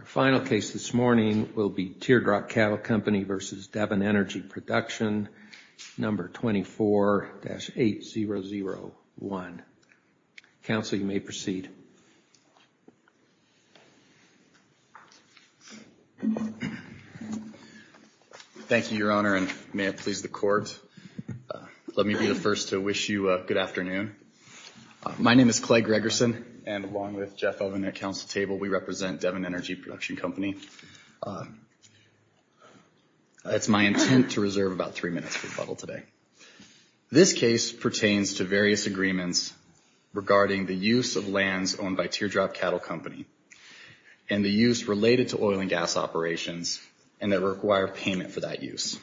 Our final case this morning will be Tear Drop Cattle Company v. Devon Energy Production, number 24-8001. Counsel, you may proceed. Thank you, Your Honor. And may it please the court, let me be the first to wish you a good afternoon. My name is Clay Gregerson and along with Jeff Oven at counsel table, we represent Devon Energy Production Company. It's my intent to reserve about three minutes for rebuttal today. This case pertains to various agreements regarding the use of lands owned by Tear Drop Cattle Company and the use related to oil and gas operations and that require payment for that use.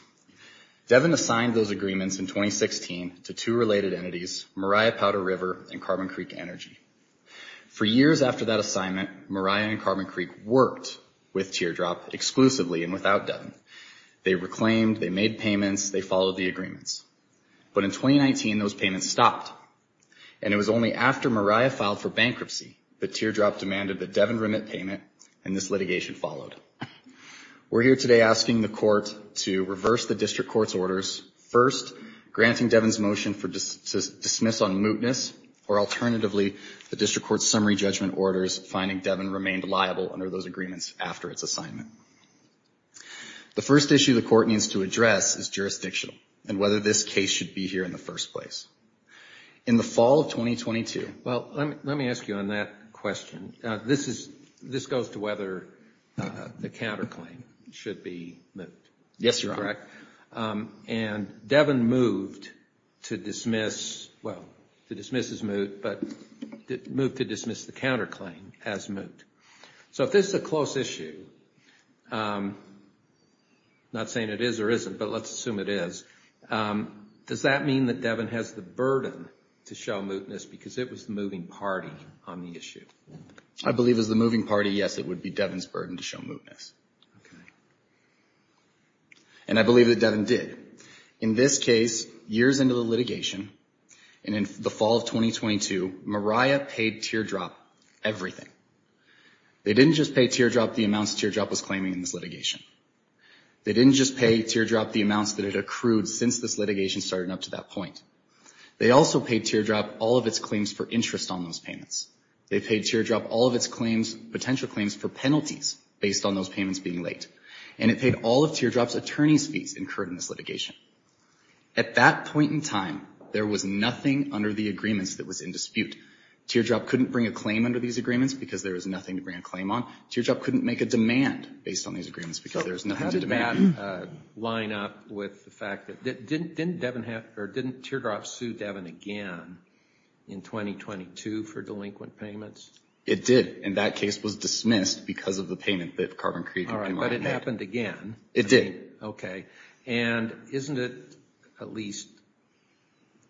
Devon assigned those agreements in 2016 to two related entities, Mariah Powder River and Carbon Creek Energy. For years after that assignment, Mariah and Carbon Creek worked with Tear Drop exclusively and without Devon. They reclaimed, they made payments, they followed the agreements. But in 2019, those payments stopped. And it was only after Mariah filed for bankruptcy that Tear Drop demanded that Devon remit payment and this litigation followed. We're here today asking the court to reverse the district court's orders, first, granting Devon's motion to dismiss on mootness or alternatively, the district court's summary judgment orders, finding Devon remained liable under those agreements after its assignment. The first issue the court needs to address is jurisdictional and whether this case should be here in the first place. In the fall of 2022... Well, let me ask you on that question. This goes to whether the counterclaim should be moot. Yes, Your Honor. Correct. And Devon moved to dismiss, well, to dismiss as moot, but moved to dismiss the counterclaim as moot. So if this is a close issue, not saying it is or isn't, but let's assume it is, does that mean that Devon has the burden to show mootness because it was the moving party on the issue? I believe as the moving party, yes, it would be Devon's burden to show mootness. Okay. And I believe that Devon did. In this case, years into the litigation and in the fall of 2022, Mariah paid teardrop everything. They didn't just pay teardrop the amounts teardrop was claiming in this litigation. They didn't just pay teardrop the amounts that it accrued since this litigation started up to that point. They also paid teardrop all of its claims for interest on those payments. They paid teardrop all of its claims, potential claims for penalties based on those payments being late. And it paid all of teardrop's attorney's fees incurred in this litigation. At that point in time, there was nothing under the agreements that was in dispute. Teardrop couldn't bring a claim under these agreements because there was nothing to bring a claim on. Teardrop couldn't make a demand based on these agreements because there was nothing to demand. Does that line up with the fact that, didn't Teardrop sue Devon again in 2022 for delinquent payments? It did. And that case was dismissed because of the payment that Carbon Creek and Pinline made. All right. But it happened again. It did. Okay. And isn't it at least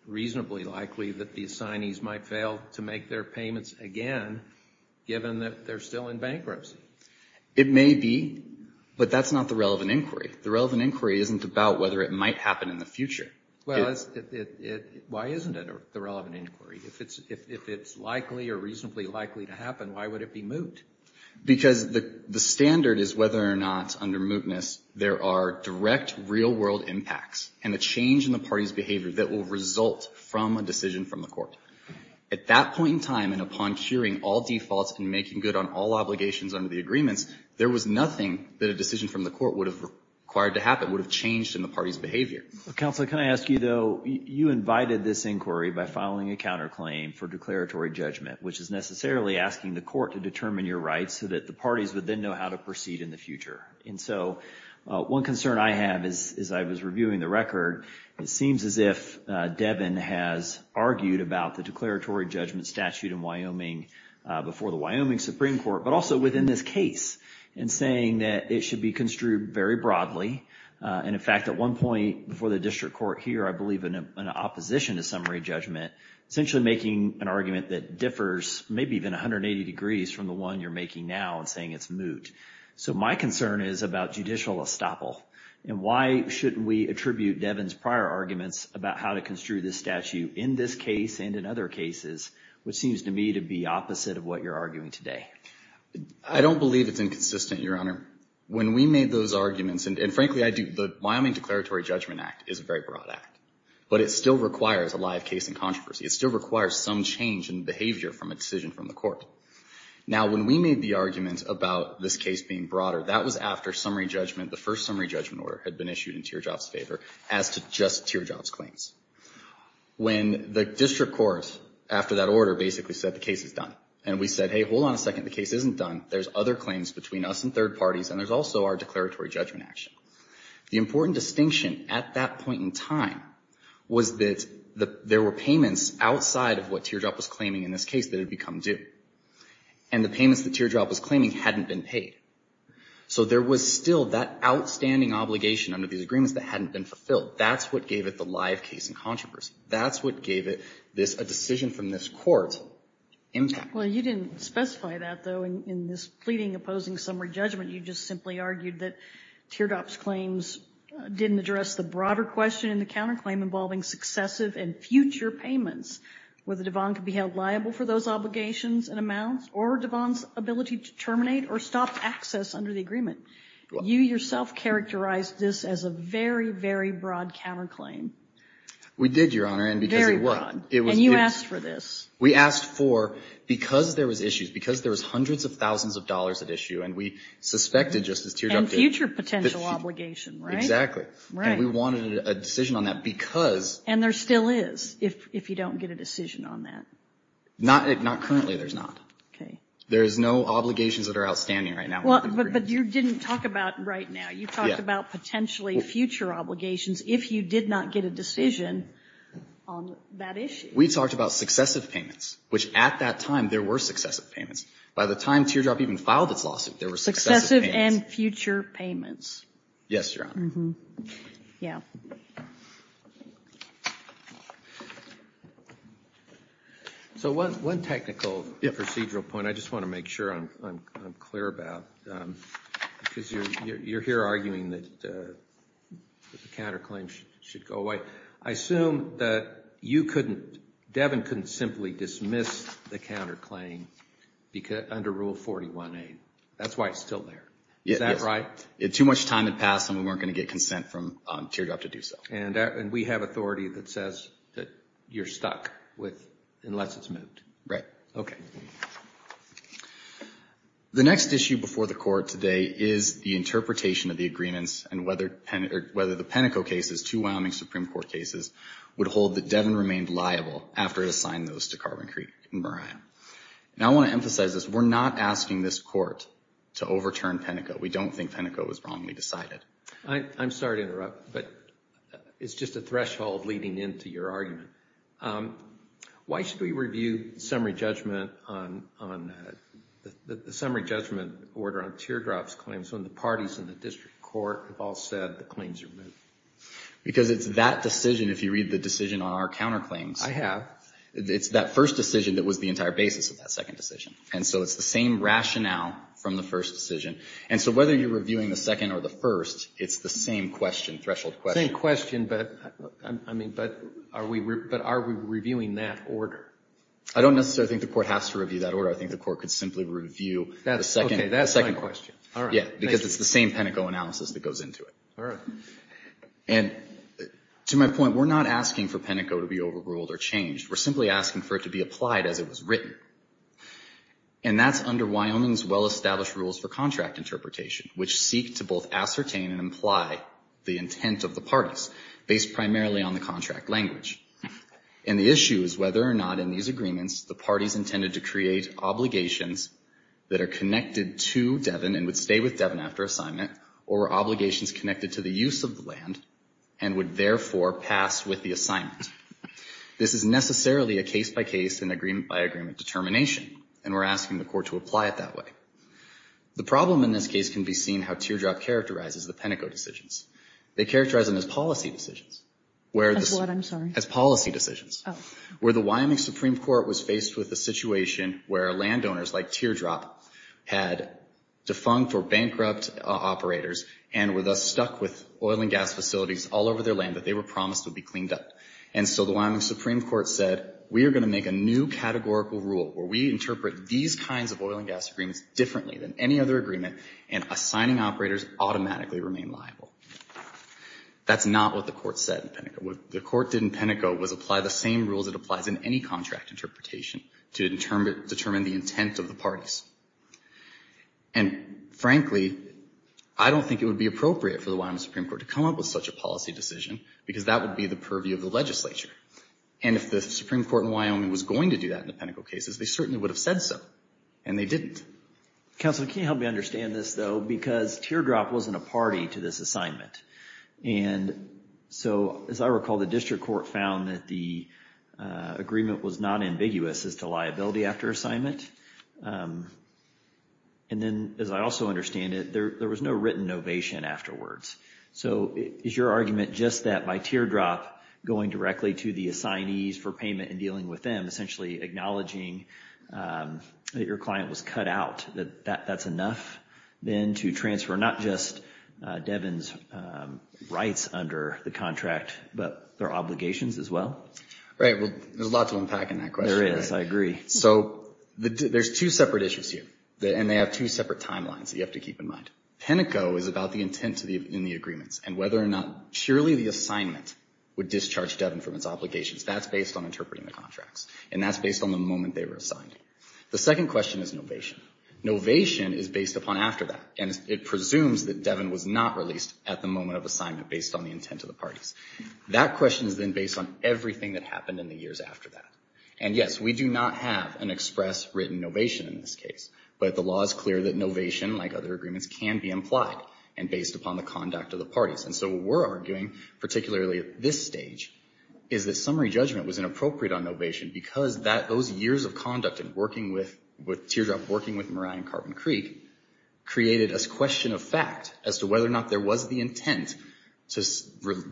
reasonably likely that the assignees might fail to make their payments again, given that they're still in bankruptcy? It may be, but that's not the relevant inquiry. The relevant inquiry isn't about whether it might happen in the future. Well, why isn't it the relevant inquiry? If it's likely or reasonably likely to happen, why would it be moot? Because the standard is whether or not under mootness, there are direct real world impacts and the change in the party's behavior that will result from a decision from the court. At that point in time, and upon curing all defaults and making good on all obligations under the agreements, there was nothing that a decision from the court would have required to happen, would have changed in the party's behavior. Counselor, can I ask you though, you invited this inquiry by filing a counterclaim for declaratory judgment, which is necessarily asking the court to determine your rights so that the parties would then know how to proceed in the future. And so one concern I have is, as I was reviewing the record, it seems as if Devon has argued about the declaratory judgment statute in Wyoming before the Wyoming Supreme Court, but also within this case and saying that it should be construed very broadly. And in fact, at one point before the district court here, I believe in an opposition to summary judgment, essentially making an argument that differs maybe even 180 degrees from the one you're making now and saying it's moot. So my concern is about judicial estoppel. And why shouldn't we attribute Devon's prior arguments about how to construe this statute in this case and in other cases, which seems to me to be opposite of what you're arguing today? I don't believe it's inconsistent, Your Honor. When we made those arguments, and frankly, I do, the Wyoming Declaratory Judgment Act is a very broad act, but it still requires a live case and controversy. It still requires some change in behavior from a decision from the court. Now, when we made the argument about this case being broader, that was after summary judgment, the first summary judgment order had been issued in Tearjobs' favor as to just Tearjobs' claims. When the district court, after that order, basically said the case is done and we said, hey, hold on a second. The case isn't done. There's other claims between us and third parties, and there's also our declaratory judgment action. The important distinction at that point in time was that there were payments outside of what Teardrop was claiming in this case that had become due. And the payments that Teardrop was claiming hadn't been paid. So there was still that outstanding obligation under these agreements that hadn't been fulfilled. That's what gave it the live case and controversy. That's what gave it a decision from this court impact. Well, you didn't specify that, though, in this pleading opposing summary judgment. You just simply argued that Teardrop's claims didn't address the broader question in the counterclaim involving successive and future payments, whether Devon could be held liable for those obligations and amounts, or Devon's ability to terminate or stop access under the agreement. You yourself characterized this as a very, very broad counterclaim. We did, Your Honor, and because it was. Very broad. And you asked for this. We asked for, because there was issues, because there was hundreds of thousands of dollars at issue, and we suspected just as Teardrop did. And future potential obligation, right? Exactly. Right. And we wanted a decision on that because. And there still is, if you don't get a decision on that. Not currently, there's not. Okay. There is no obligations that are outstanding right now. But you didn't talk about right now. You talked about potentially future obligations if you did not get a decision on that issue. We talked about successive payments, which at that time, there were successive payments. By the time Teardrop even filed its lawsuit, there were successive payments. Successive and future payments. Yes, Your Honor. Yeah. So one technical procedural point I just want to make sure I'm clear about, because you're here arguing that the counterclaim should go away. I assume that you couldn't, Devin couldn't simply dismiss the counterclaim under Rule 41A. That's why it's still there. Is that right? If too much time had passed, then we weren't going to get consent from Teardrop to do so. And we have authority that says that you're stuck with, unless it's moved. Right. Okay. The next issue before the Court today is the interpretation of the agreements and whether the Peneco cases, two Wyoming Supreme Court cases, would hold that Devin remained liable after it assigned those to Carvin, Creek, and Moran. And I want to emphasize this. We're not asking this Court to overturn Peneco. We don't think Peneco was wrongly decided. I'm sorry to interrupt, but it's just a threshold leading into your argument. Why should we review the summary judgment on the summary judgment order on Teardrop's claims when the parties in the district court have all said the claim's removed? Because it's that decision, if you read the decision on our counterclaims. I have. It's that first decision that was the entire basis of that second decision. And so it's the same rationale from the first decision. And so whether you're reviewing the second or the first, it's the same question, threshold question. Same question, but I mean, but are we reviewing that order? I don't necessarily think the Court has to review that order. I think the Court could simply review the second question. Yeah, because it's the same Peneco analysis that goes into it. And to my point, we're not asking for Peneco to be overruled or changed. We're simply asking for it to be applied as it was written. And that's under Wyoming's well-established rules for contract interpretation, which seek to both ascertain and imply the intent of the parties, based primarily on the contract language. And the issue is whether or not in these agreements, the parties intended to create obligations that are connected to Devon and would stay with Devon after assignment, or were obligations connected to the use of the land and would therefore pass with the assignment. This is necessarily a case-by-case and agreement-by-agreement determination. And we're asking the Court to apply it that way. The problem in this case can be seen how teardrop characterizes the Peneco decisions. They characterize them as policy decisions. As what, I'm sorry? As policy decisions. Oh. Where the Wyoming Supreme Court was faced with a situation where landowners like teardrop had defunct or bankrupt operators and were thus stuck with oil and gas facilities all over their land that they were promised would be cleaned up. And so the Wyoming Supreme Court said, we are going to make a new categorical rule where we interpret these kinds of oil and gas agreements differently than any other agreement and assigning operators automatically remain liable. That's not what the Court said in Peneco. What the Court did in Peneco was apply the same rules it applies in any contract interpretation to determine the intent of the parties. And frankly, I don't think it would be appropriate for the Wyoming Supreme Court to come up with such a policy decision because that would be the purview of the legislature. And if the Supreme Court in Wyoming was going to do that in the Peneco cases, they certainly would have said so. And they didn't. Counselor, can you help me understand this though? Because teardrop wasn't a party to this assignment. And so as I recall, the district court found that the agreement was not ambiguous as to liability after assignment. And then as I also understand it, there was no written ovation afterwards. So is your argument just that by teardrop going directly to the assignees for payment and dealing with them, essentially acknowledging that your client was cut out, that that's enough then to transfer not just Devin's rights under the contract, but their obligations as well? Right. Well, there's a lot to unpack in that question. There is. I agree. So there's two separate issues here. And they have two separate timelines that you have to keep in mind. Peneco is about the intent in the agreements and whether or not surely the assignment would discharge Devin from its obligations. That's based on interpreting the contracts. And that's based on the moment they were assigned. The second question is novation. Novation is based upon after that. And it presumes that Devin was not released at the moment of assignment based on the intent of the parties. That question is then based on everything that happened in the years after that. And yes, we do not have an express written novation in this case. But the law is clear that novation, like other agreements, can be implied and based upon the conduct of the parties. And so what we're arguing, particularly at this stage, is that summary judgment was inappropriate on novation because those years of conduct and teardrop working with Moriah and Carbon Creek created a question of fact as to whether or not there was the intent to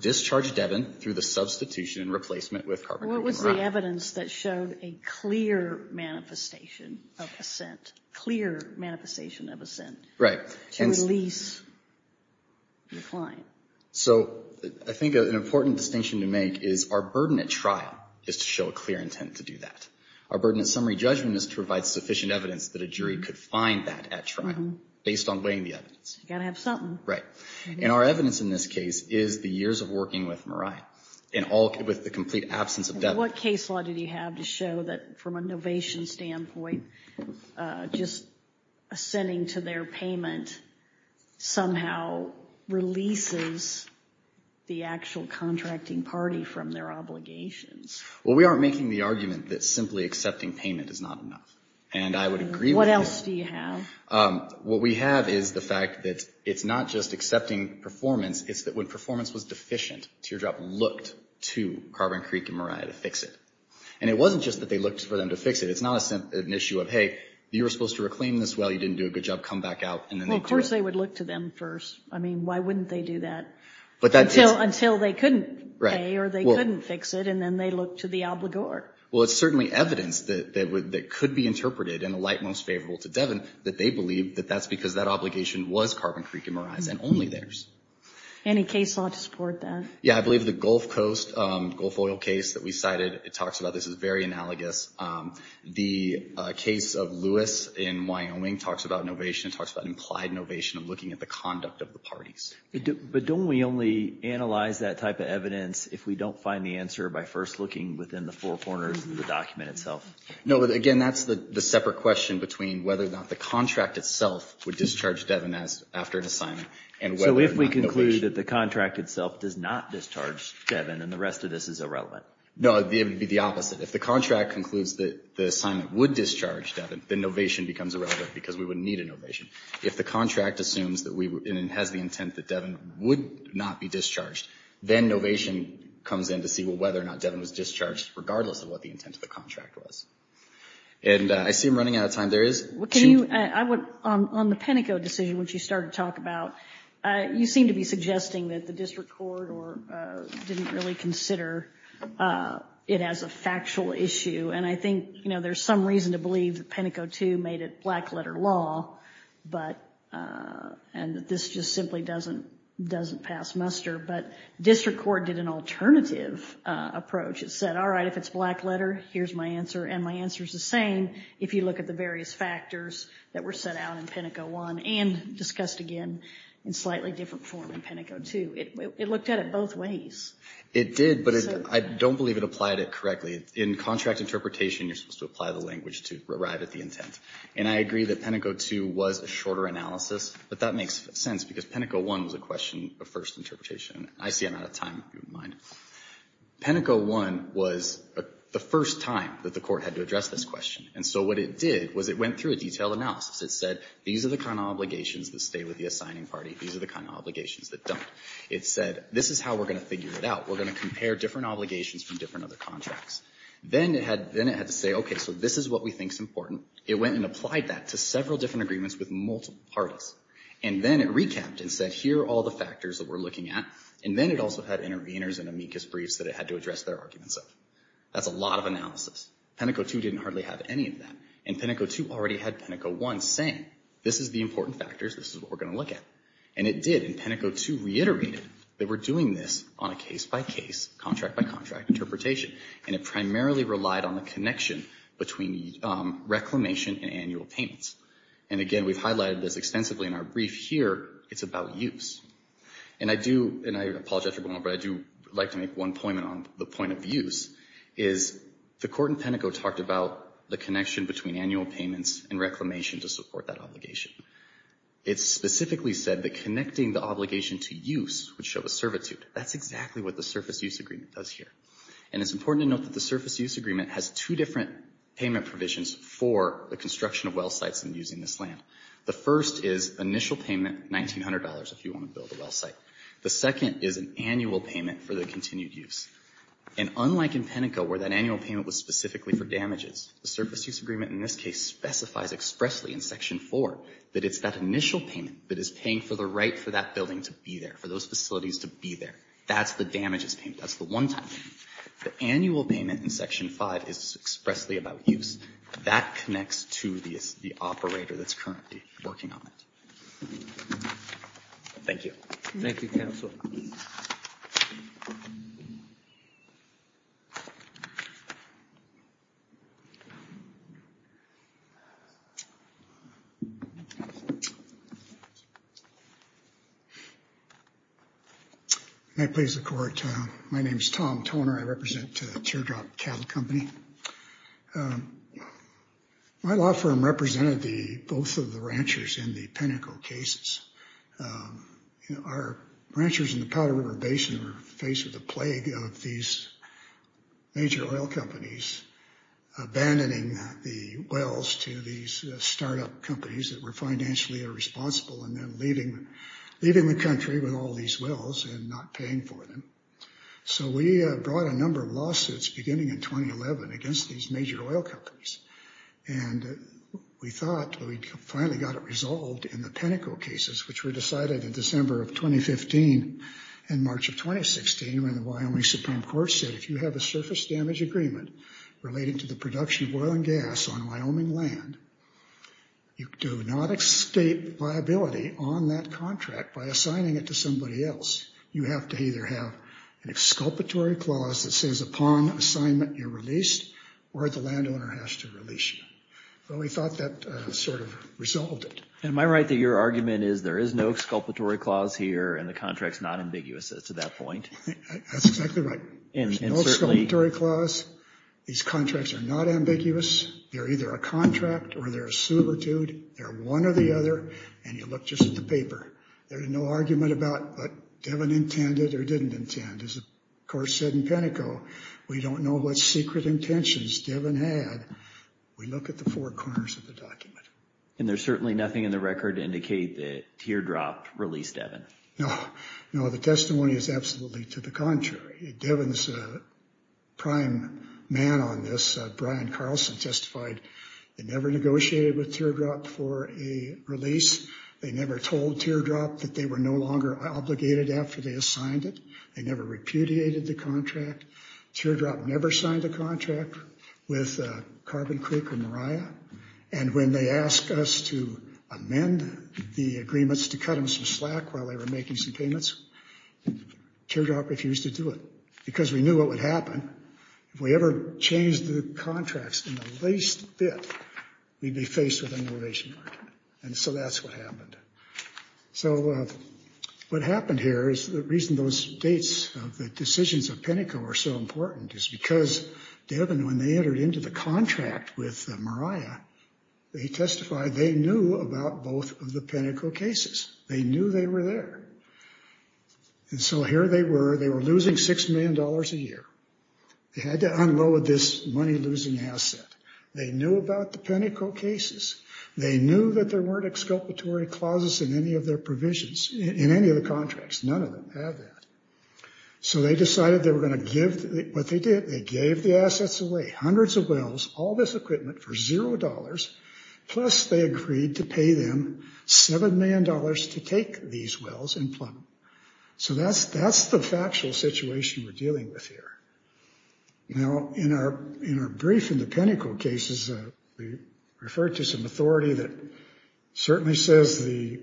discharge Devin through the substitution and replacement with Carbon Creek and Moriah. What was the evidence that showed a clear manifestation of assent? Clear manifestation of assent. Right. To release the client. So I think an important distinction to make is our burden at trial is to show a clear intent to do that. Our burden of summary judgment is to provide sufficient evidence that a jury could find that at trial based on weighing the evidence. You've got to have something. Right. And our evidence in this case is the years of working with Moriah and all with the complete absence of Devin. What case law did you have to show that from a novation standpoint, just assenting to their payment somehow releases the actual contracting party from their obligations? Well, we aren't making the argument that simply accepting payment is not enough. And I would agree with that. What else do you have? What we have is the fact that it's not just accepting performance. It's that when performance was deficient, Teardrop looked to Carbon Creek and Moriah to fix it. And it wasn't just that they looked for them to fix it. It's not an issue of, hey, you were supposed to reclaim this. You didn't do a good job. Come back out. Well, of course they would look to them first. I mean, why wouldn't they do that until they couldn't pay or they couldn't fix it. And then they look to the obligor. Well, it's certainly evidence that could be interpreted in the light most favorable to Devin that they believe that that's because that obligation was Carbon Creek and Moriah's and only theirs. Any case law to support that? Yeah, I believe the Gulf Coast Gulf Oil case that we cited, it talks about this is very analogous. The case of Lewis in Wyoming talks about innovation, talks about implied innovation of looking at the conduct of the parties. But don't we only analyze that type of evidence if we don't find the answer by first looking within the four corners of the document itself? No, but again, that's the separate question between whether or not the contract itself would discharge Devin after an assignment and whether or not innovation. So if we conclude that the contract itself does not discharge Devin and the rest of this is irrelevant? No, it would be the opposite. If the contract concludes that the assignment would discharge Devin, then innovation becomes irrelevant because we wouldn't need innovation. If the contract assumes and has the intent that Devin would not be discharged, then innovation comes in to see whether or not Devin was discharged, regardless of what the intent of the contract was. And I see I'm running out of time. There is... On the Penteco decision, which you started to talk about, you seem to be suggesting that the district court didn't really consider it as a factual issue. And I think, you know, there's some reason to believe that Penteco II made it black-letter law, and this just simply doesn't pass muster. But district court did an alternative approach. It said, all right, if it's black-letter, here's my answer. And my answer is the same if you look at the various factors that were set out in Penteco I and discussed again in slightly different form in Penteco II. It looked at it both ways. It did, but I don't believe it applied it correctly. In contract interpretation, you're supposed to apply the language to arrive at the intent. And I agree that Penteco II was a shorter analysis, but that makes sense because Penteco I was a question of first interpretation. I see I'm out of time, if you don't mind. Penteco I was the first time that the court had to address this question. And so what it did was it went through a detailed analysis. It said, these are the kind of obligations that stay with the assigning party. These are the kind of obligations that don't. It said, this is how we're going to figure it out. We're going to compare different obligations from different other contracts. Then it had to say, OK, so this is what we think is important. It went and applied that to several different agreements with multiple parties. And then it recapped and said, here are all the factors that we're looking at. And then it also had interveners and amicus briefs that it had to address their arguments of. That's a lot of analysis. Penteco II didn't hardly have any of that. And Penteco II already had Penteco I saying, this is the important factors. This is what we're going to look at. And it did. And Penteco II reiterated that we're doing this on a case-by-case, contract-by-contract interpretation. And it primarily relied on the connection between reclamation and annual payments. And again, we've highlighted this extensively in our brief here. It's about use. And I do, and I apologize for going on, but I do like to make one point on the point of use, is the court in Penteco talked about the connection between annual payments and reclamation to support that obligation. It specifically said that connecting the obligation to use would show a servitude. That's exactly what the Surface Use Agreement does here. And it's important to note that the Surface Use Agreement has two different payment provisions for the construction of well sites and using this land. The first is initial payment, $1,900, if you want to build a well site. The second is an annual payment for the continued use. And unlike in Penteco, where that annual payment was specifically for damages, the it's that initial payment that is paying for the right for that building to be there, for those facilities to be there. That's the damages payment. That's the one-time payment. The annual payment in Section 5 is expressly about use. That connects to the operator that's currently working on it. Thank you. Thank you, counsel. May it please the court. My name is Tom Toner. I represent Teardrop Cattle Company. My law firm represented both of the ranchers in the Penteco cases. You know, our ranchers in the Powder River Basin were faced with the plague of these major oil companies abandoning the wells to these startup companies that were financially irresponsible and then leaving the country with all these wells and not paying for them. So we brought a number of lawsuits beginning in 2011 against these major oil companies. And we thought we finally got it resolved in the Penteco cases, which were decided in December of 2015 and March of 2016 when the Wyoming Supreme Court said if you have a surface damage agreement relating to the production of oil and gas on Wyoming land, you do not extate liability on that contract by assigning it to somebody else. You have to either have an exculpatory clause that says upon assignment you're released or the landowner has to release you. Well, we thought that sort of resolved it. Am I right that your argument is there is no exculpatory clause here and the contract's not ambiguous to that point? That's exactly right. There's no exculpatory clause. These contracts are not ambiguous. They're either a contract or they're a subvertude. They're one or the other. And you look just at the paper. There's no argument about what Devon intended or didn't intend. As the court said in Penteco, we don't know what secret intentions Devon had. We look at the four corners of the document. And there's certainly nothing in the record to indicate that Teardrop released Devon? No. No, the testimony is absolutely to the contrary. Devon's prime man on this, Brian Carlson, testified they never negotiated with Teardrop for a release. They never told Teardrop that they were no longer obligated after they assigned it. They never repudiated the contract. Teardrop never signed a contract with Carbon Creek or Mariah. And when they asked us to amend the agreements to cut them some slack while they were making some payments, Teardrop refused to do it because we knew what would happen. If we ever changed the contracts in the least bit, we'd be faced with an innovation argument. And so that's what happened. So what happened here is the reason those dates of the decisions of Penteco are so important is because Devon, when they entered into the contract with Mariah, they testified they knew about both of the Penteco cases. They knew they were there. And so here they were. They were losing $6 million a year. They had to unload this money-losing asset. They knew about the Penteco cases. They knew that there weren't exculpatory clauses in any of their provisions, in any of the contracts. None of them had that. So they decided they were going to give what they did. They gave the assets away, hundreds of wells, all this equipment for $0, plus they agreed to pay them $7 million to take these wells and plumb them. So that's the factual situation we're dealing with here. Now, in our brief in the Penteco cases, we referred to some authority that certainly says the,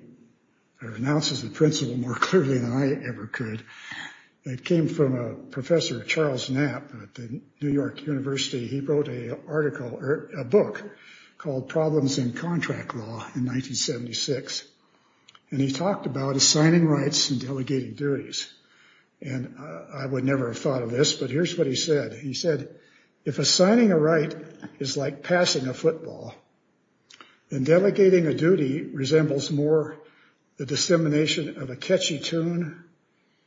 or announces the principle more clearly than I ever could. It came from a professor, Charles Knapp at the New York University. He wrote a book called Problems in Contract Law in 1976. And he talked about assigning rights and delegating duties. And I would never have thought of this, but here's what he said. He said, if assigning a right is like passing a football, then delegating a duty resembles more the dissemination of a catchy tune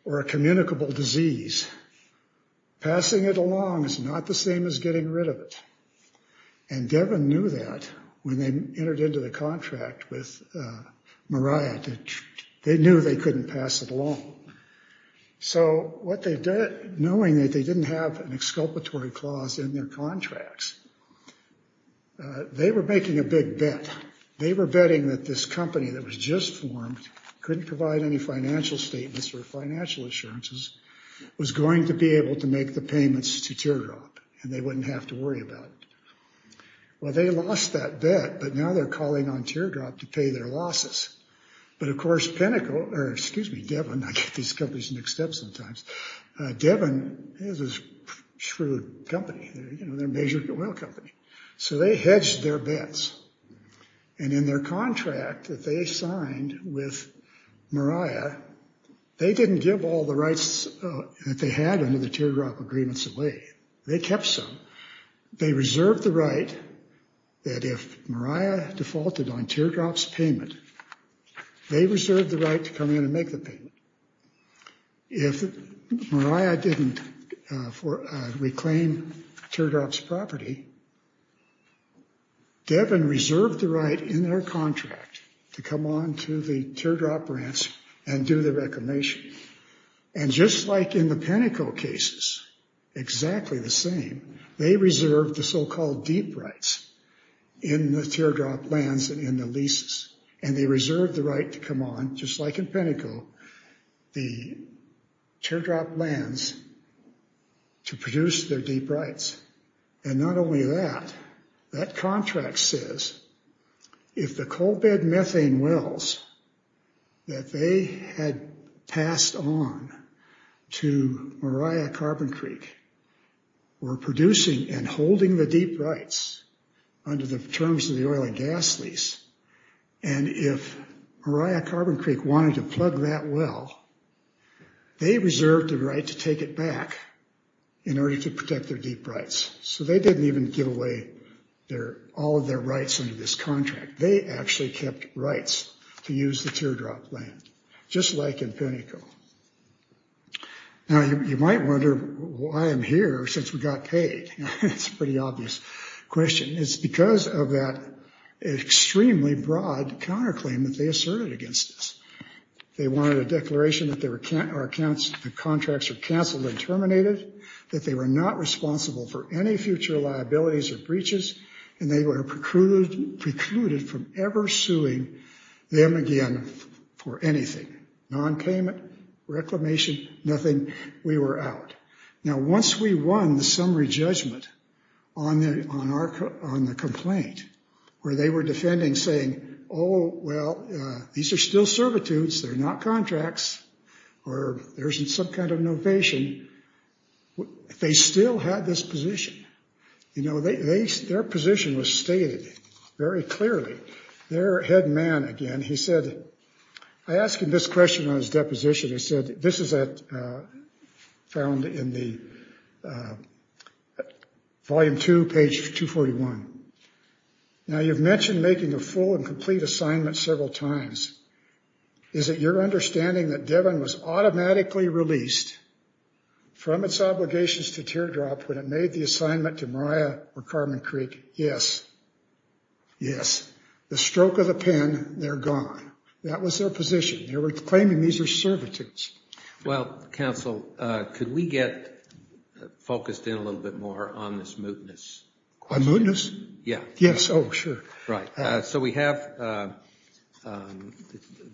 or a communicable disease. Passing it along is not the same as getting rid of it. And Devon knew that when they entered into the contract with Marriott. They knew they couldn't pass it along. So what they did, knowing that they didn't have an exculpatory clause in their contracts, they were making a big bet. They were betting that this company that was just formed, couldn't provide any financial statements or financial assurances, was going to be able to make the payments to Teardrop, and they wouldn't have to worry about it. Well, they lost that bet, but now they're calling on Teardrop to pay their losses. But of course, Devon, I get these companies mixed up sometimes. Devon is a shrewd company. They're a major oil company. So they hedged their bets. And in their contract that they signed with Marriott, they didn't give all the rights that they had under the Teardrop agreements away. They kept some. They reserved the right that if Marriott defaulted on Teardrop's payment, they reserved the right to come in and make the payment. If Marriott didn't reclaim Teardrop's property, Devon reserved the right in their contract to come on to the Teardrop branch and do the reclamation. And just like in the Penteco cases, exactly the same, they reserved the so-called deep rights in the Teardrop lands and in the leases. And they reserved the right to come on, just like in Penteco, the Teardrop lands to produce their deep rights. And not only that, that contract says if the coal bed methane wells that they had passed on to Marriott Carbon Creek were producing and holding the deep rights under the terms of the oil and gas lease, and if Marriott Carbon Creek wanted to plug that well, they reserved the right to take it back in order to protect their deep rights. So they didn't even give away all of their rights under this contract. They actually kept rights to use the Teardrop land, just like in Penteco. Now, you might wonder why I'm here since we got paid. It's a pretty obvious question. It's because of that extremely broad counterclaim that they asserted against us. They wanted a declaration that the contracts were canceled and terminated, that they were not responsible for any future liabilities or breaches, and they were precluded from ever suing them again for anything. Non-payment, reclamation, nothing. We were out. Now, once we won the summary judgment on the complaint, where they were defending saying, oh, well, these are still servitudes, they're not contracts, or there isn't some kind of innovation, they still had this position. Their position was stated very clearly. Their head man, again, he said, I asked him this question on his deposition. He said, this is found in the volume two, page 241. Now, you've mentioned making a full and complete assignment several times. Is it your understanding that Devon was automatically released from its obligations to Teardrop when it made the assignment to Mariah or Carmen Creek? Yes. Yes. The stroke of the pen, they're gone. That was their position. They were claiming these are servitudes. Well, counsel, could we get focused in a little bit more on this mootness? On mootness? Yeah. Yes, oh, sure. Right. So we have the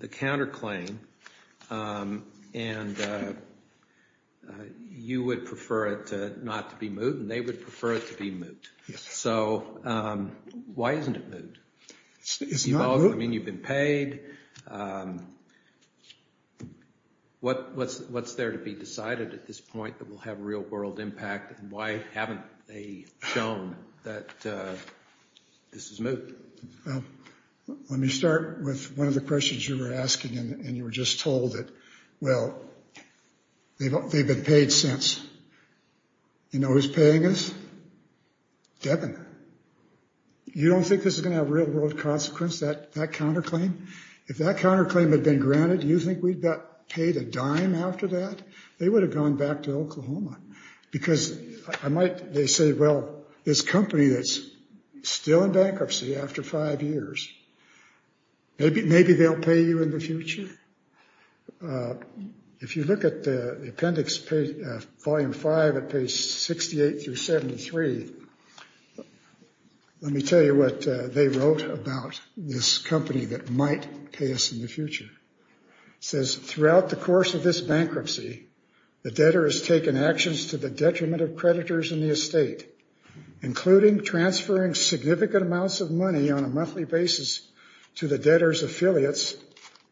counterclaim, and you would prefer it not to be moot, and they would prefer it to be moot. So why isn't it moot? It's not moot. I mean, you've been paid. What's there to be decided at this point that will have real world impact, and why haven't they shown that this is moot? Let me start with one of the questions you were asking, and you were just told that, well, they've been paid since. You know who's paying us? Devon. You don't think this is going to have real world consequence, that counterclaim? If that counterclaim had been granted, do you think we'd get paid a dime after that? They would have gone back to Oklahoma. Because I might, they say, well, this company that's still in bankruptcy after five years, maybe they'll pay you in the future. If you look at the appendix, volume five, at page 68 through 73, let me tell you what they wrote about this company that might pay us in the future. It says, throughout the course of this bankruptcy, the debtor has taken actions to the detriment of creditors in the estate, including transferring significant amounts of money on a monthly basis to the debtor's affiliates,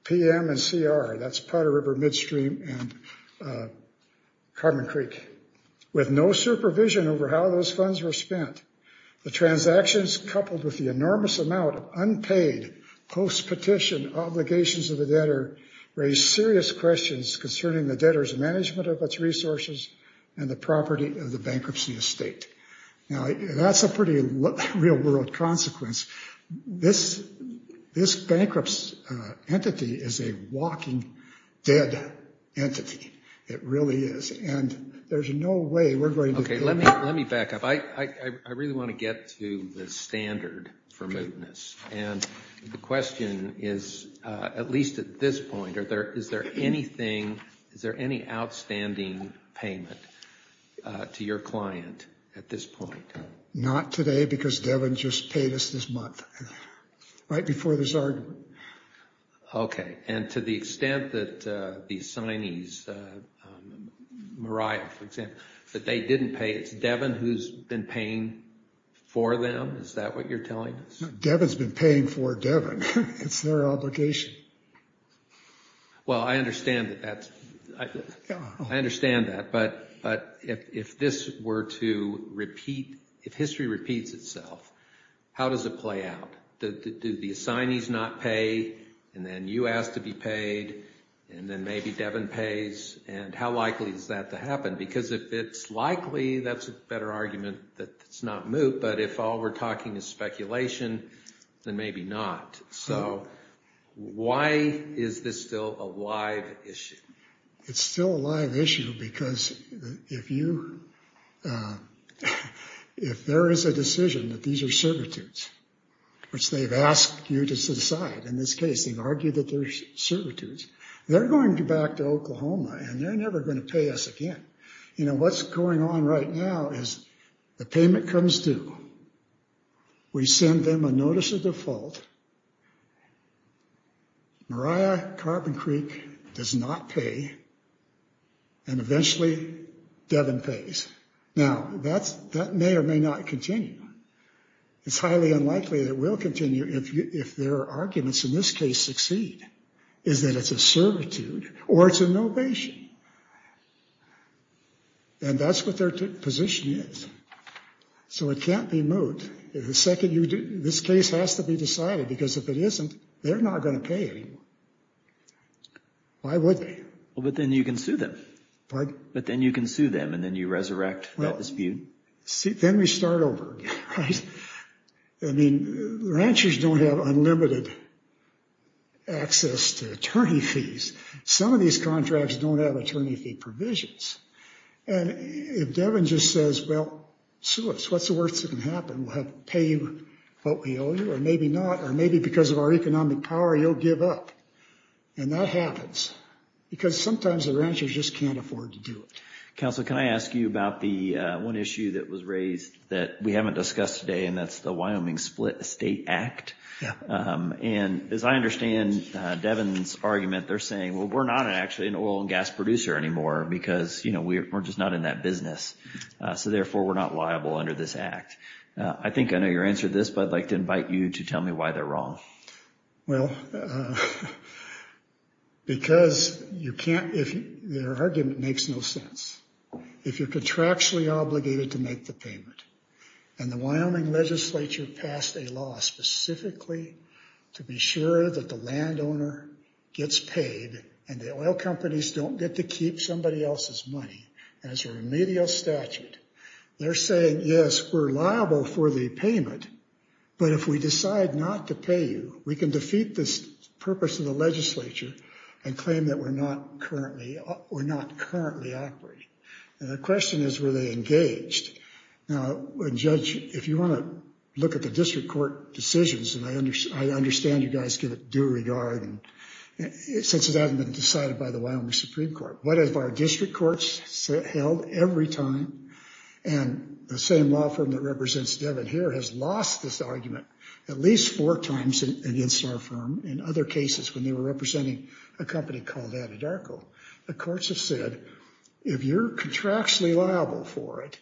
PM and CR. That's Potter River, Midstream, and Carbon Creek. With no supervision over how those funds were spent, the transactions coupled with the enormous amount of unpaid, post-petition obligations of the debtor raise serious questions concerning the debtor's management of its resources and the property of the bankruptcy estate. Now, that's a pretty real world consequence. This bankruptcy entity is a walking dead entity. It really is. And there's no way we're going to- Let me back up. I really want to get to the standard for mootness. And the question is, at least at this point, is there any outstanding payment to your client at this point? Not today, because Devin just paid us this month, right before this argument. Okay. And to the extent that the assignees, Mariah, for example, that they didn't pay, it's Devin who's been paying for them? Is that what you're telling us? Devin's been paying for Devin. It's their obligation. Well, I understand that. I understand that. But if this were to repeat, if history repeats itself, how does it play out? Do the assignees not pay, and then you ask to be paid, and then maybe Devin pays? And how likely is that to happen? Because if it's likely, that's a better argument that it's not moot. But if all we're talking is speculation, then maybe not. So why is this still a live issue? It's still a live issue because if there is a decision that these are servitudes, which they've asked you to decide, in this case, they've argued that they're servitudes, they're going to go back to Oklahoma, and they're never going to pay us again. You know, what's going on right now is the payment comes due. We send them a notice of default. Mariah Carbon Creek does not pay. And eventually, Devin pays. Now, that may or may not continue. It's highly unlikely that it will continue if their arguments in this case succeed, is that it's a servitude or it's a novation. And that's what their position is. So it can't be moot. This case has to be decided because if it isn't, they're not going to pay anymore. Why would they? Well, but then you can sue them. But then you can sue them, and then you resurrect that dispute. Then we start over. Right? I mean, ranchers don't have unlimited access to attorney fees. Some of these contracts don't have attorney fee provisions. And if Devin just says, well, sue us, what's the worst that can happen? We'll have to pay you what we owe you, or maybe not, or maybe because of our economic power, you'll give up. And that happens, because sometimes the ranchers just can't afford to do it. Counselor, can I ask you about the one issue that was raised that we haven't discussed today? And that's the Wyoming Split Estate Act. And as I understand Devin's argument, they're saying, well, we're not actually an oil and gas producer anymore because we're just not in that business. So therefore, we're not liable under this act. I think I know your answer to this, but I'd like to invite you to tell me why they're wrong. Well, because their argument makes no sense. If you're contractually obligated to make the payment, and the Wyoming legislature passed a law specifically to be sure that the landowner gets paid and the oil companies don't get to keep somebody else's money as a remedial statute, they're saying, yes, we're liable for the payment. But if we decide not to pay you, we can defeat the purpose of the legislature and claim that we're not currently operating. And the question is, were they engaged? Now, Judge, if you want to look at the district court decisions, and I understand you guys give it due regard, since it hasn't been decided by the Wyoming Supreme Court, what if our district courts held every time, and the same law firm that represents Devon here has lost this argument at least four times against our firm in other cases when they were representing a company called Atadarko. The courts have said, if you're contractually liable for it,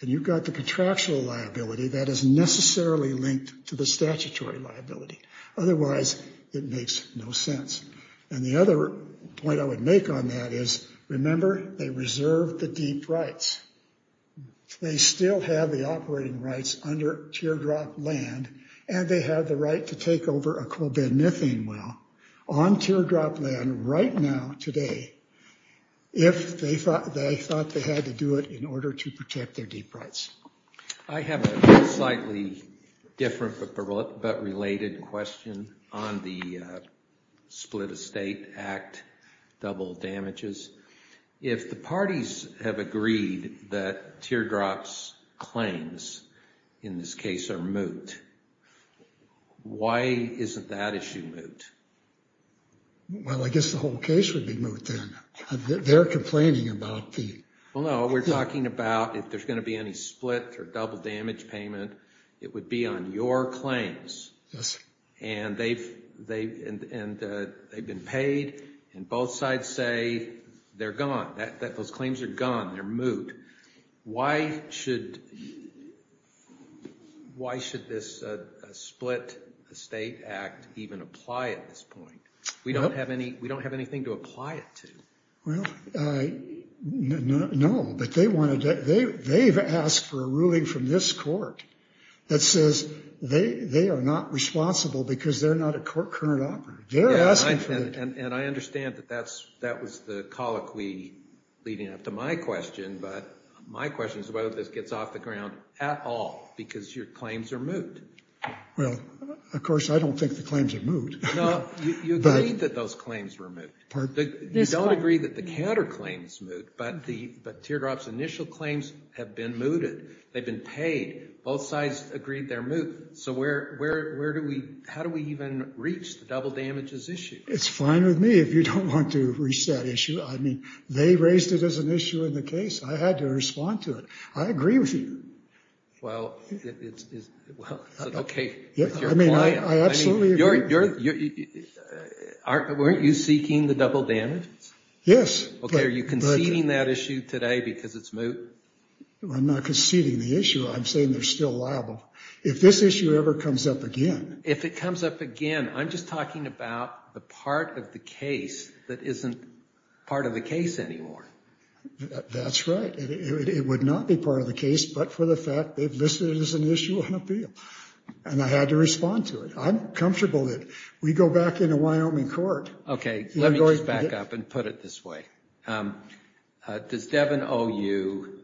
and you've got the contractual liability, that is necessarily linked to the statutory liability. Otherwise, it makes no sense. And the other point I would make on that is, remember, they reserve the deep rights. They still have the operating rights under teardrop land, and they have the right to take over a coal bed methane well on teardrop land right now, today, if they thought they had to do it in order to protect their deep rights. I have a slightly different but related question on the Split Estate Act double damages. If the parties have agreed that teardrops claims in this case are moot, why isn't that issue moot? Well, I guess the whole case would be moot then. They're complaining about the... Well, no, we're talking about if there's going to be any split or double damage payment, it would be on your claims. Yes. And they've been paid, and both sides say they're gone. Those claims are gone. They're moot. Why should this Split Estate Act even apply at this point? We don't have anything to apply it to. Well, no, but they've asked for a ruling from this court that says they are not responsible because they're not a court current operator. They're asking for it. And I understand that that was the colloquy leading up to my question, but my question is whether this gets off the ground at all because your claims are moot. Well, of course, I don't think the claims are moot. No, you agree that those claims were moot. You don't agree that the counterclaims moot, but Teardrop's initial claims have been mooted. They've been paid. Both sides agreed they're moot. So where do we... How do we even reach the double damages issue? It's fine with me if you don't want to reach that issue. I mean, they raised it as an issue in the case. I had to respond to it. I agree with you. Well, it's okay with your client. I absolutely agree. But weren't you seeking the double damages? Yes. Okay, are you conceding that issue today because it's moot? I'm not conceding the issue. I'm saying they're still liable. If this issue ever comes up again... If it comes up again, I'm just talking about the part of the case that isn't part of the case anymore. That's right. It would not be part of the case, but for the fact they've listed it as an issue on appeal and I had to respond to it. I'm comfortable that we go back into Wyoming court... Okay, let me just back up and put it this way. Does Devin owe you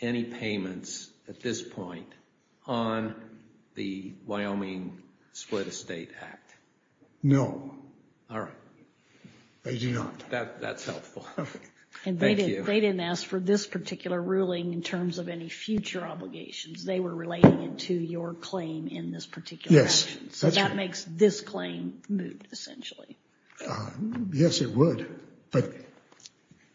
any payments at this point on the Wyoming Split Estate Act? No. All right. I do not. That's helpful. And they didn't ask for this particular ruling in terms of any future obligations. They were relating it to your claim in this particular... Yes. That makes this claim moot, essentially. Yes, it would, but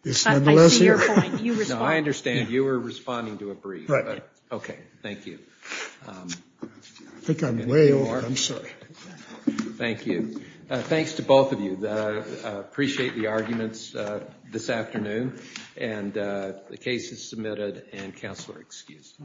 it's nonetheless... I see your point. You responded... No, I understand. You were responding to a brief. Right. Okay, thank you. I think I'm way off. I'm sorry. Thank you. Thanks to both of you. Appreciate the arguments this afternoon and the case is submitted and counselor excused.